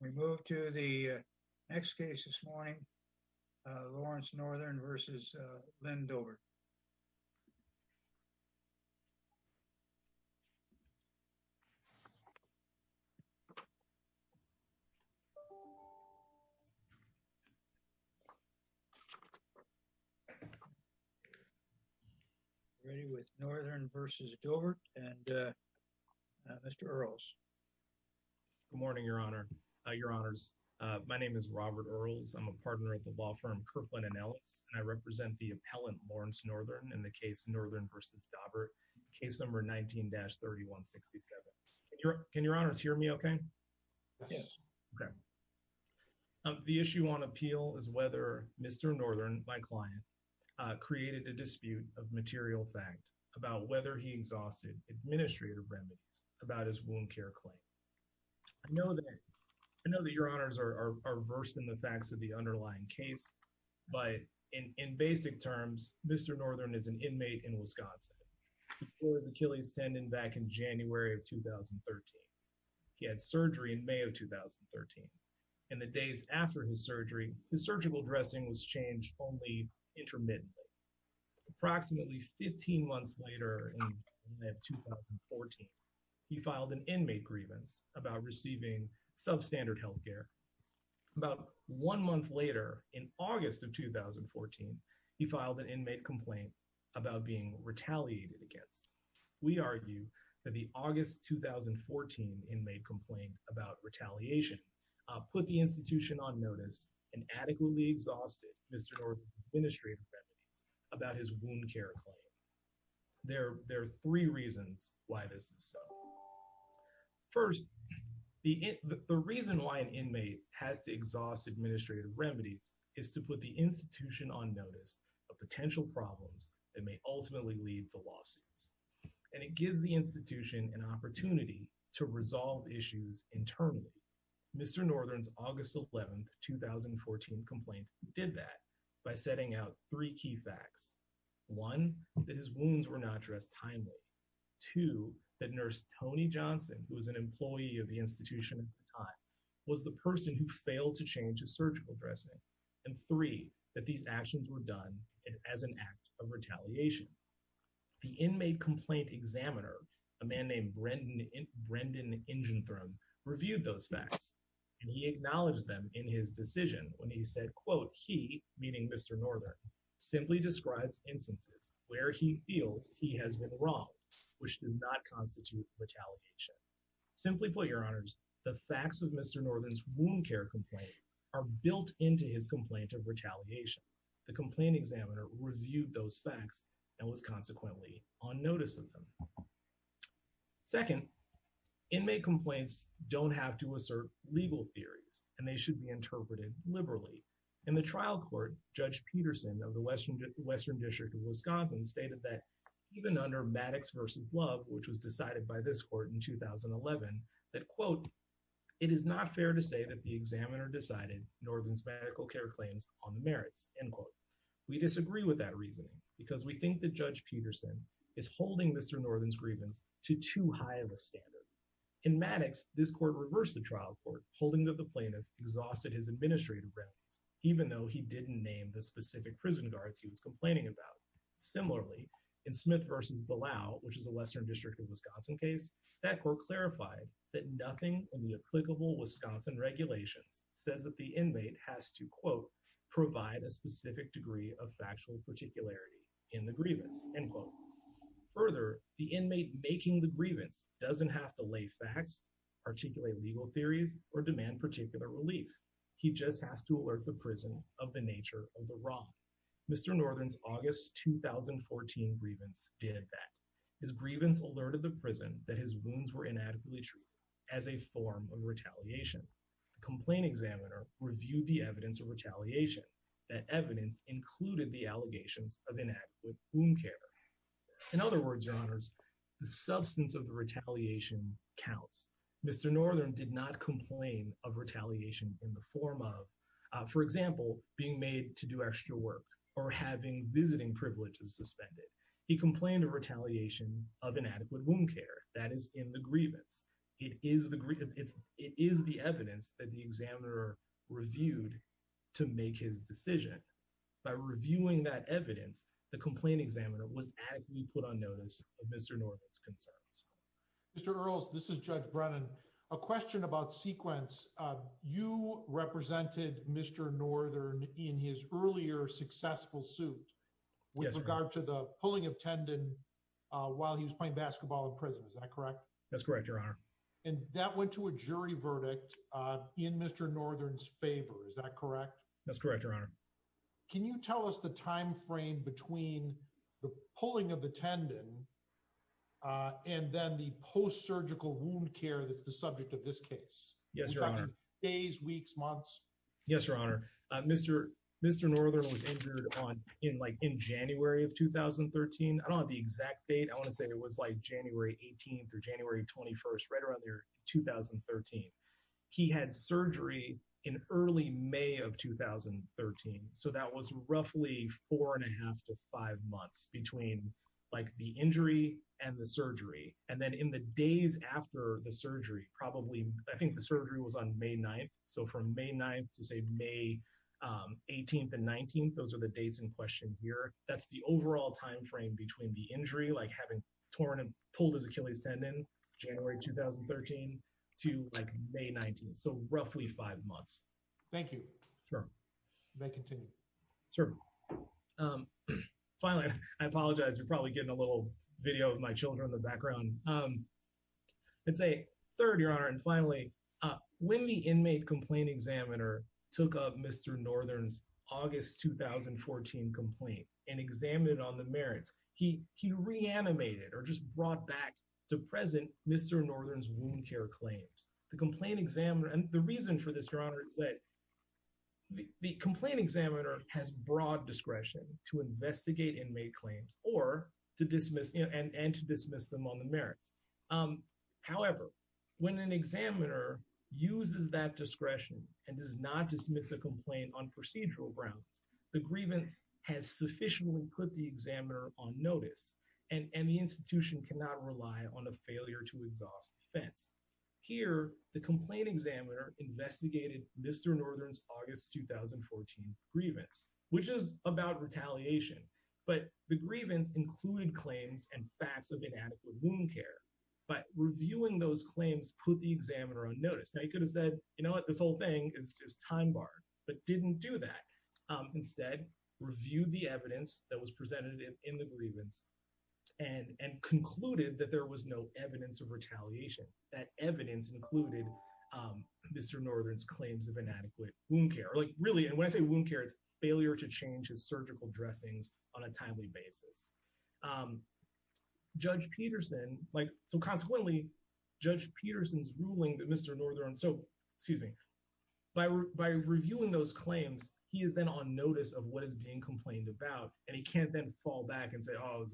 We move to the next case this morning, Lawrence Northern v. Lynn Dobbert. Robert Earls Ready with Northern v. Dobbert and Mr. Earls. Robert Earls Good morning, Your Honor, Your Honors. My name is Robert Earls. I'm a partner at the law firm Kirkland & Ellis, and I represent the appellant, Lawrence Northern, in the case Northern v. Dobbert, case number 19-3167. Can Your Honors hear me okay? Robert Earls Yes. Robert Earls Okay. The issue on appeal is whether Mr. Northern, my client, created a dispute of material fact about whether he exhausted administrative remedies about his wound care claim. I know that Your Honors are versed in the facts of the underlying case, but in basic terms, Mr. Northern is an inmate in Wisconsin. He tore his Achilles tendon back in January of 2013. He had surgery in May of 2013. In the days after his surgery, his surgical dressing was changed only intermittently. Approximately 15 months later in May of 2014, he filed an inmate grievance about receiving substandard health care. About one month later, in August of 2014, he filed an inmate complaint about being retaliated against. We argue that the August 2014 inmate complaint about retaliation put the institution on notice and adequately exhausted Mr. Northern's administrative remedies about his wound care claim. There are three reasons why this is so. First, the reason why an inmate has to exhaust administrative remedies is to put the institution on notice of potential problems that may ultimately lead to lawsuits, and it gives the institution an opportunity to resolve issues internally. Mr. Northern's August 11, 2014, complaint did that by setting out three key facts. One, that his wounds were not dressed timely. Two, that nurse Tony Johnson, who was an employee of the institution at the time, was the person who failed to change his surgical dressing. And three, that these actions were done as an act of retaliation. The inmate complaint examiner, a man named Brendan Ingenthrum, reviewed those facts and he acknowledged them in his decision when he said, quote, he, meaning Mr. Northern, simply describes instances where he feels he has been wronged, which does not constitute retaliation. Simply put, your honors, the facts of Mr. Northern's wound care complaint are built into his complaint of retaliation. The complaint examiner reviewed those facts and was consequently on notice of them. Second, inmate complaints don't have to assert legal theories and they don't have to be based on any evidence. The court's ruling of the Western District of Wisconsin stated that even under Maddox v. Love, which was decided by this court in 2011, that, quote, it is not fair to say that the examiner decided Northern's medical care claims on the merits, end quote. We disagree with that reasoning because we think that Judge Peterson is holding Mr. Northern's grievance to too high of a standard. In Maddox, this court reversed the trial court, holding that the plaintiff exhausted his administrative grounds, even though he didn't name the specific prison guards he was complaining about. Similarly, in Smith v. Dallal, which is a Western District of Wisconsin case, that court clarified that nothing in the applicable Wisconsin regulations says that the inmate has to, quote, provide a specific degree of factual particularity in the grievance, end quote. Further, the inmate making the grievance doesn't have to lay facts, articulate legal theories, or demand particular relief. He just has to alert the prison of the nature of the wrong. Mr. Northern's August 2014 grievance did that. His grievance alerted the prison that his wounds were inadequately treated as a form of retaliation. The complaint examiner reviewed the evidence of retaliation, that evidence included the allegations of inadequate wound care. In other words, your honors, the substance of the retaliation counts. Mr. Northern did not complain of retaliation in the form of, for example, being made to do extra work or having visiting privileges suspended. He complained of retaliation of inadequate wound care. That is in the grievance. It is the evidence that the examiner reviewed to make his decision. By reviewing that evidence, the complaint examiner was adequately put on notice of Mr. Northern's concerns. Mr. Earls, this is Judge Brennan. A question about sequence. You represented Mr. Northern in his earlier successful suit with regard to the pulling of tendon while he was playing basketball in prison. Is that correct? That's correct, your honor. And that went to a jury verdict in Mr. Northern's favor. Is that correct? That's correct, your honor. Can you tell us the timeframe between the pulling of the tendon and then the post-surgical wound care that's the subject of this case? Yes, your honor. Days, weeks, months? Yes, your honor. Mr. Northern was injured in January of 2013. I don't know the exact date. I want to say it was January 18th or January 21st, right around there, 2013. He had surgery in early May of 2013. So that was roughly four and a half to five months between like the injury and the surgery. And then in the days after the surgery, probably I think the surgery was on May 9th. So from May 9th to say May 18th and 19th, those are the dates in question here. That's the overall time frame between the injury, like having torn and pulled his Achilles tendon, January 2013 to like May 19th. So roughly five months. Thank you. You may continue. Sure. Finally, I apologize. You're probably getting a little video of my children in the background. I'd say third, your honor. And finally, when the inmate complaint examiner took up Mr. Northern's August 2014 complaint and examined on the merits, he reanimated or just brought back to present Mr. Northern's wound care claims. The complaint examiner, and the reason for this, your honor, is that the complaint examiner has broad discretion to investigate inmate claims or to dismiss them on the merits. However, when an examiner uses that discretion and does not dismiss a complaint on procedural grounds, the grievance has sufficiently put the examiner on notice and the institution cannot rely on a exhaust defense. Here, the complaint examiner investigated Mr. Northern's August 2014 grievance, which is about retaliation, but the grievance included claims and facts of inadequate wound care. But reviewing those claims put the examiner on notice. Now you could have said, you know what, this whole thing is just time barred, but didn't do that. Instead, reviewed the evidence that was of retaliation. That evidence included Mr. Northern's claims of inadequate wound care, or like really, and when I say wound care, it's failure to change his surgical dressings on a timely basis. Judge Peterson, like, so consequently, Judge Peterson's ruling that Mr. Northern, so, excuse me, by reviewing those claims, he is then on notice of what is being complained about, and he can't then fall back and say, oh,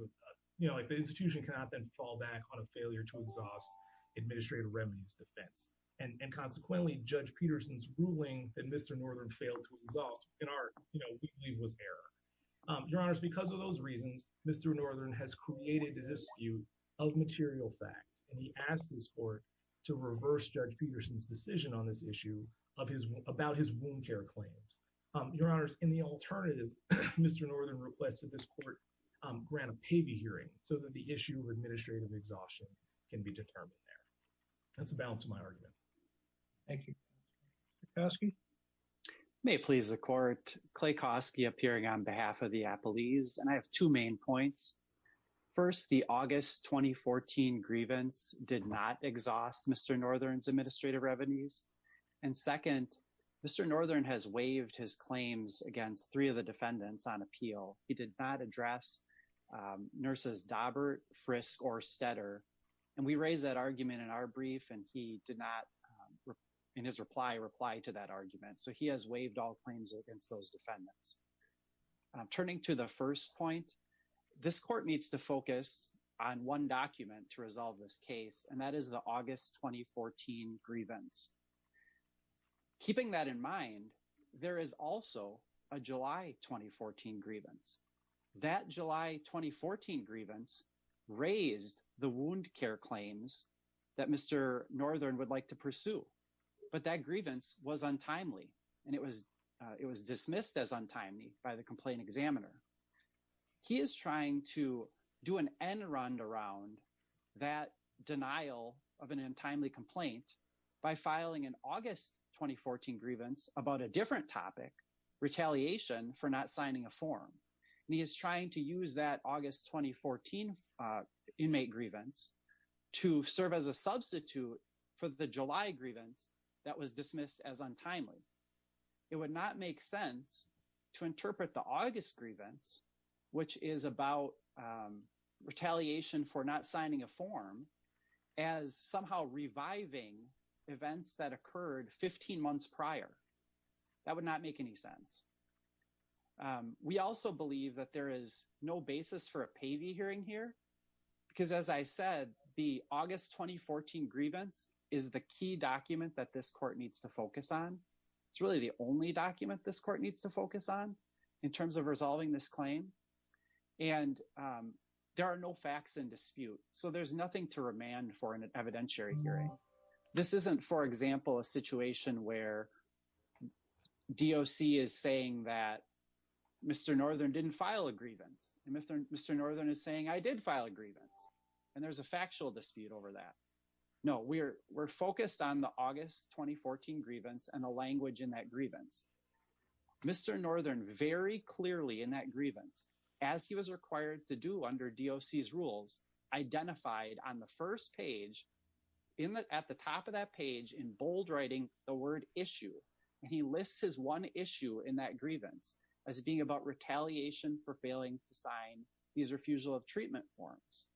you know, like the institution cannot then fall back on a administrative remedies defense. And consequently, Judge Peterson's ruling that Mr. Northern failed to exhaust, in our, you know, we believe was error. Your honors, because of those reasons, Mr. Northern has created a dispute of material facts, and he asked this court to reverse Judge Peterson's decision on this issue of his, about his wound care claims. Your honors, in the alternative, Mr. Northern requested this court grant a paybee hearing so that the issue of wound care could be determined there. That's the balance of my argument. Thank you. Clay Kosky? May it please the court, Clay Kosky appearing on behalf of the appellees, and I have two main points. First, the August 2014 grievance did not exhaust Mr. Northern's administrative revenues. And second, Mr. Northern has waived his claims against three of the defendants on appeal. He did not address nurses Dobbert, Frisk, or Stetter. And we raised that argument in our brief, and he did not, in his reply, reply to that argument. So he has waived all claims against those defendants. Turning to the first point, this court needs to focus on one document to resolve this case, and that is the August 2014 grievance. Keeping that in mind, there is also a July 2014 grievance. That July 2014 grievance raised the wound care claims that Mr. Northern would like to pursue. But that grievance was untimely, and it was dismissed as untimely by the complaint examiner. He is trying to do an end round around that denial of an untimely complaint by filing an August 2014 grievance about a different topic, retaliation for not signing a form. And he is trying to use that August 2014 inmate grievance to serve as a substitute for the July grievance that was dismissed as untimely. It would not make sense to interpret the August events that occurred 15 months prior. That would not make any sense. We also believe that there is no basis for a Pavey hearing here, because as I said, the August 2014 grievance is the key document that this court needs to focus on. It's really the only document this court needs to focus on in terms of resolving this claim. And there are no facts in dispute, so there's nothing to remand for an evidentiary hearing. This isn't, for example, a situation where DOC is saying that Mr. Northern didn't file a grievance, and Mr. Northern is saying I did file a grievance, and there's a factual dispute over that. No, we're focused on the August 2014 grievance and the language in that grievance. Mr. Northern very clearly in that grievance, as he was required to do under DOC's rules, identified on the first page at the top of that page in bold writing the word issue, and he lists his one issue in that grievance as being about retaliation for failing to sign these refusal of treatment forms.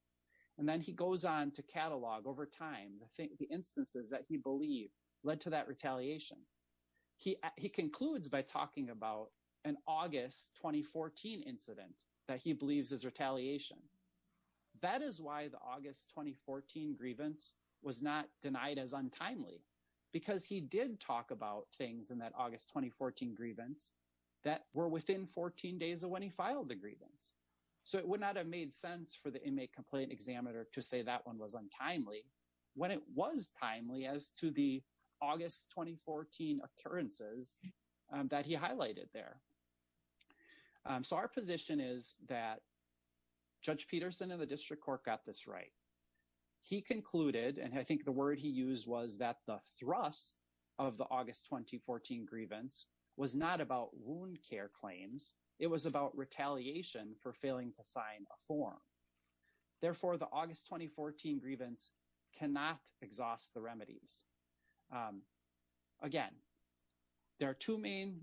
And then he goes on to catalog over time the instances that he led to that retaliation. He concludes by talking about an August 2014 incident that he believes is retaliation. That is why the August 2014 grievance was not denied as untimely, because he did talk about things in that August 2014 grievance that were within 14 days of when he filed the grievance. So it would not have made sense for the inmate complaint examiner to say that one was untimely when it was timely as to the August 2014 occurrences that he highlighted there. So our position is that Judge Peterson and the district court got this right. He concluded, and I think the word he used was that the thrust of the August 2014 grievance was not about wound claims. It was about retaliation for failing to sign a form. Therefore, the August 2014 grievance cannot exhaust the remedies. Again, there are two main,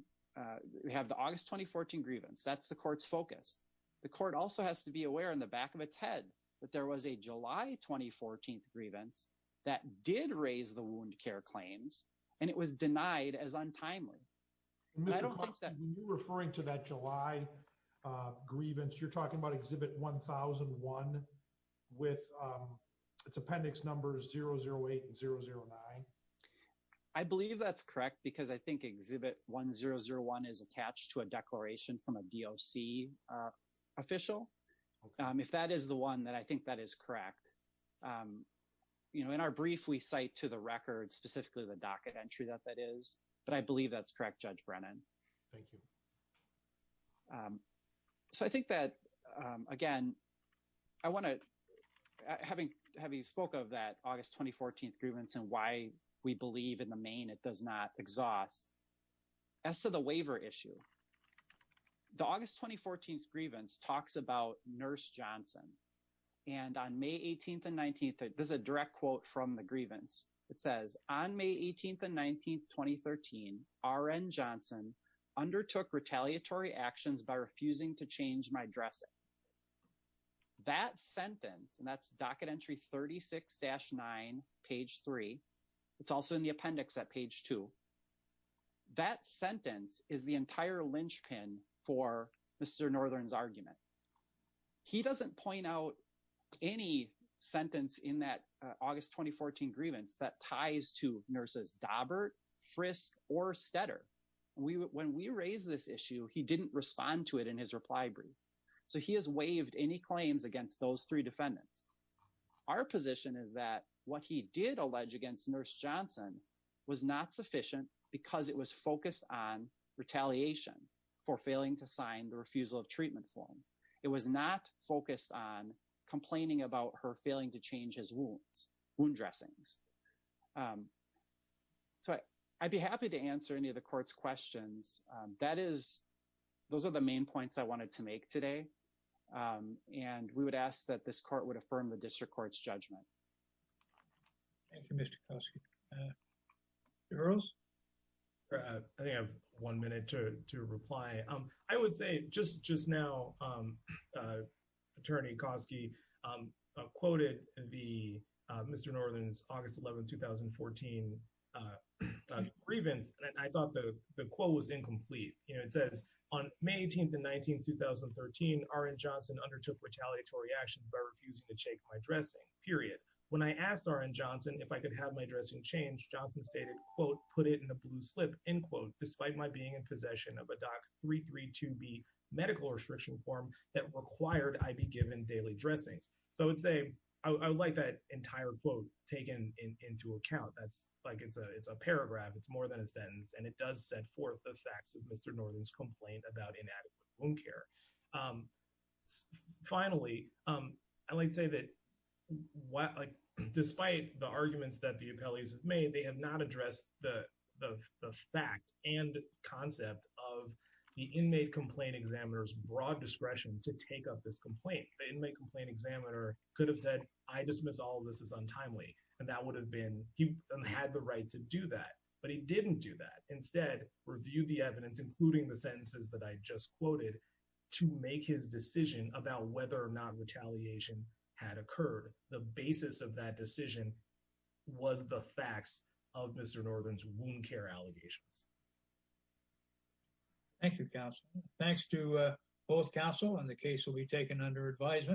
we have the August 2014 grievance, that's the court's focus. The court also has to be aware in the back of its head that there was a July 2014 grievance that did raise the wound care claims and it was denied as untimely. When you're referring to that July grievance, you're talking about Exhibit 1001 with its appendix numbers 008 and 009? I believe that's correct because I think Exhibit 1001 is attached to a declaration from a DOC official. If that is the one, then I think that is correct. In our brief, we cite to the record specifically the docket entry that that is, but I believe that's correct, Judge Brennan. Thank you. So I think that, again, having spoke of that August 2014 grievance and why we believe in the main it does not exhaust, as to the waiver issue, the August 2014 grievance talks about May 18th and 19th. There's a direct quote from the grievance. It says, on May 18th and 19th, 2013, R.N. Johnson undertook retaliatory actions by refusing to change my dressing. That sentence, and that's docket entry 36-9, page three. It's also in the appendix at page two. That sentence is the entire linchpin for Mr. Northern's argument. He doesn't point out any sentence in that August 2014 grievance that ties to nurses Dobbert, Frist, or Stetter. When we raised this issue, he didn't respond to it in his reply brief. So he has waived any claims against those three defendants. Our position is that what he did allege against Nurse Johnson was not sufficient because it was focused on retaliation for failing to sign the refusal of treatment form. It was not focused on complaining about her failing to change his wounds, wound dressings. So I'd be happy to answer any of the court's questions. Those are the main points I wanted to make today. And we would ask that this court would affirm the district court's judgment. Thank you, Mr. Koski. Mr. Earls? I think I have one minute to reply. I would say just now, Attorney Koski quoted Mr. Northern's August 11, 2014 grievance. And I thought the quote was incomplete. It says, on May 18th and 19th, 2013, R.N. Johnson undertook retaliatory actions by refusing to shake my dressing, period. When I asked R.N. Johnson if I could have my dressing changed, Johnson stated, quote, put it in a blue slip, end quote, despite my being in medical restriction form that required I be given daily dressings. So I would say I would like that entire quote taken into account. That's like it's a paragraph. It's more than a sentence. And it does set forth the facts of Mr. Northern's complaint about inadequate wound care. Finally, I'd like to say that despite the arguments that the appellees have made, they have not addressed the fact and concept of the inmate complaint examiner's broad discretion to take up this complaint. The inmate complaint examiner could have said, I dismiss all of this as untimely. And that would have been, he had the right to do that. But he didn't do that. Instead, reviewed the evidence, including the sentences that I just quoted to make his decision about whether or not retaliation had occurred. The basis of that of Mr. Northern's wound care allegations. Thank you, counsel. Thanks to both counsel and the case will be taken under advisement.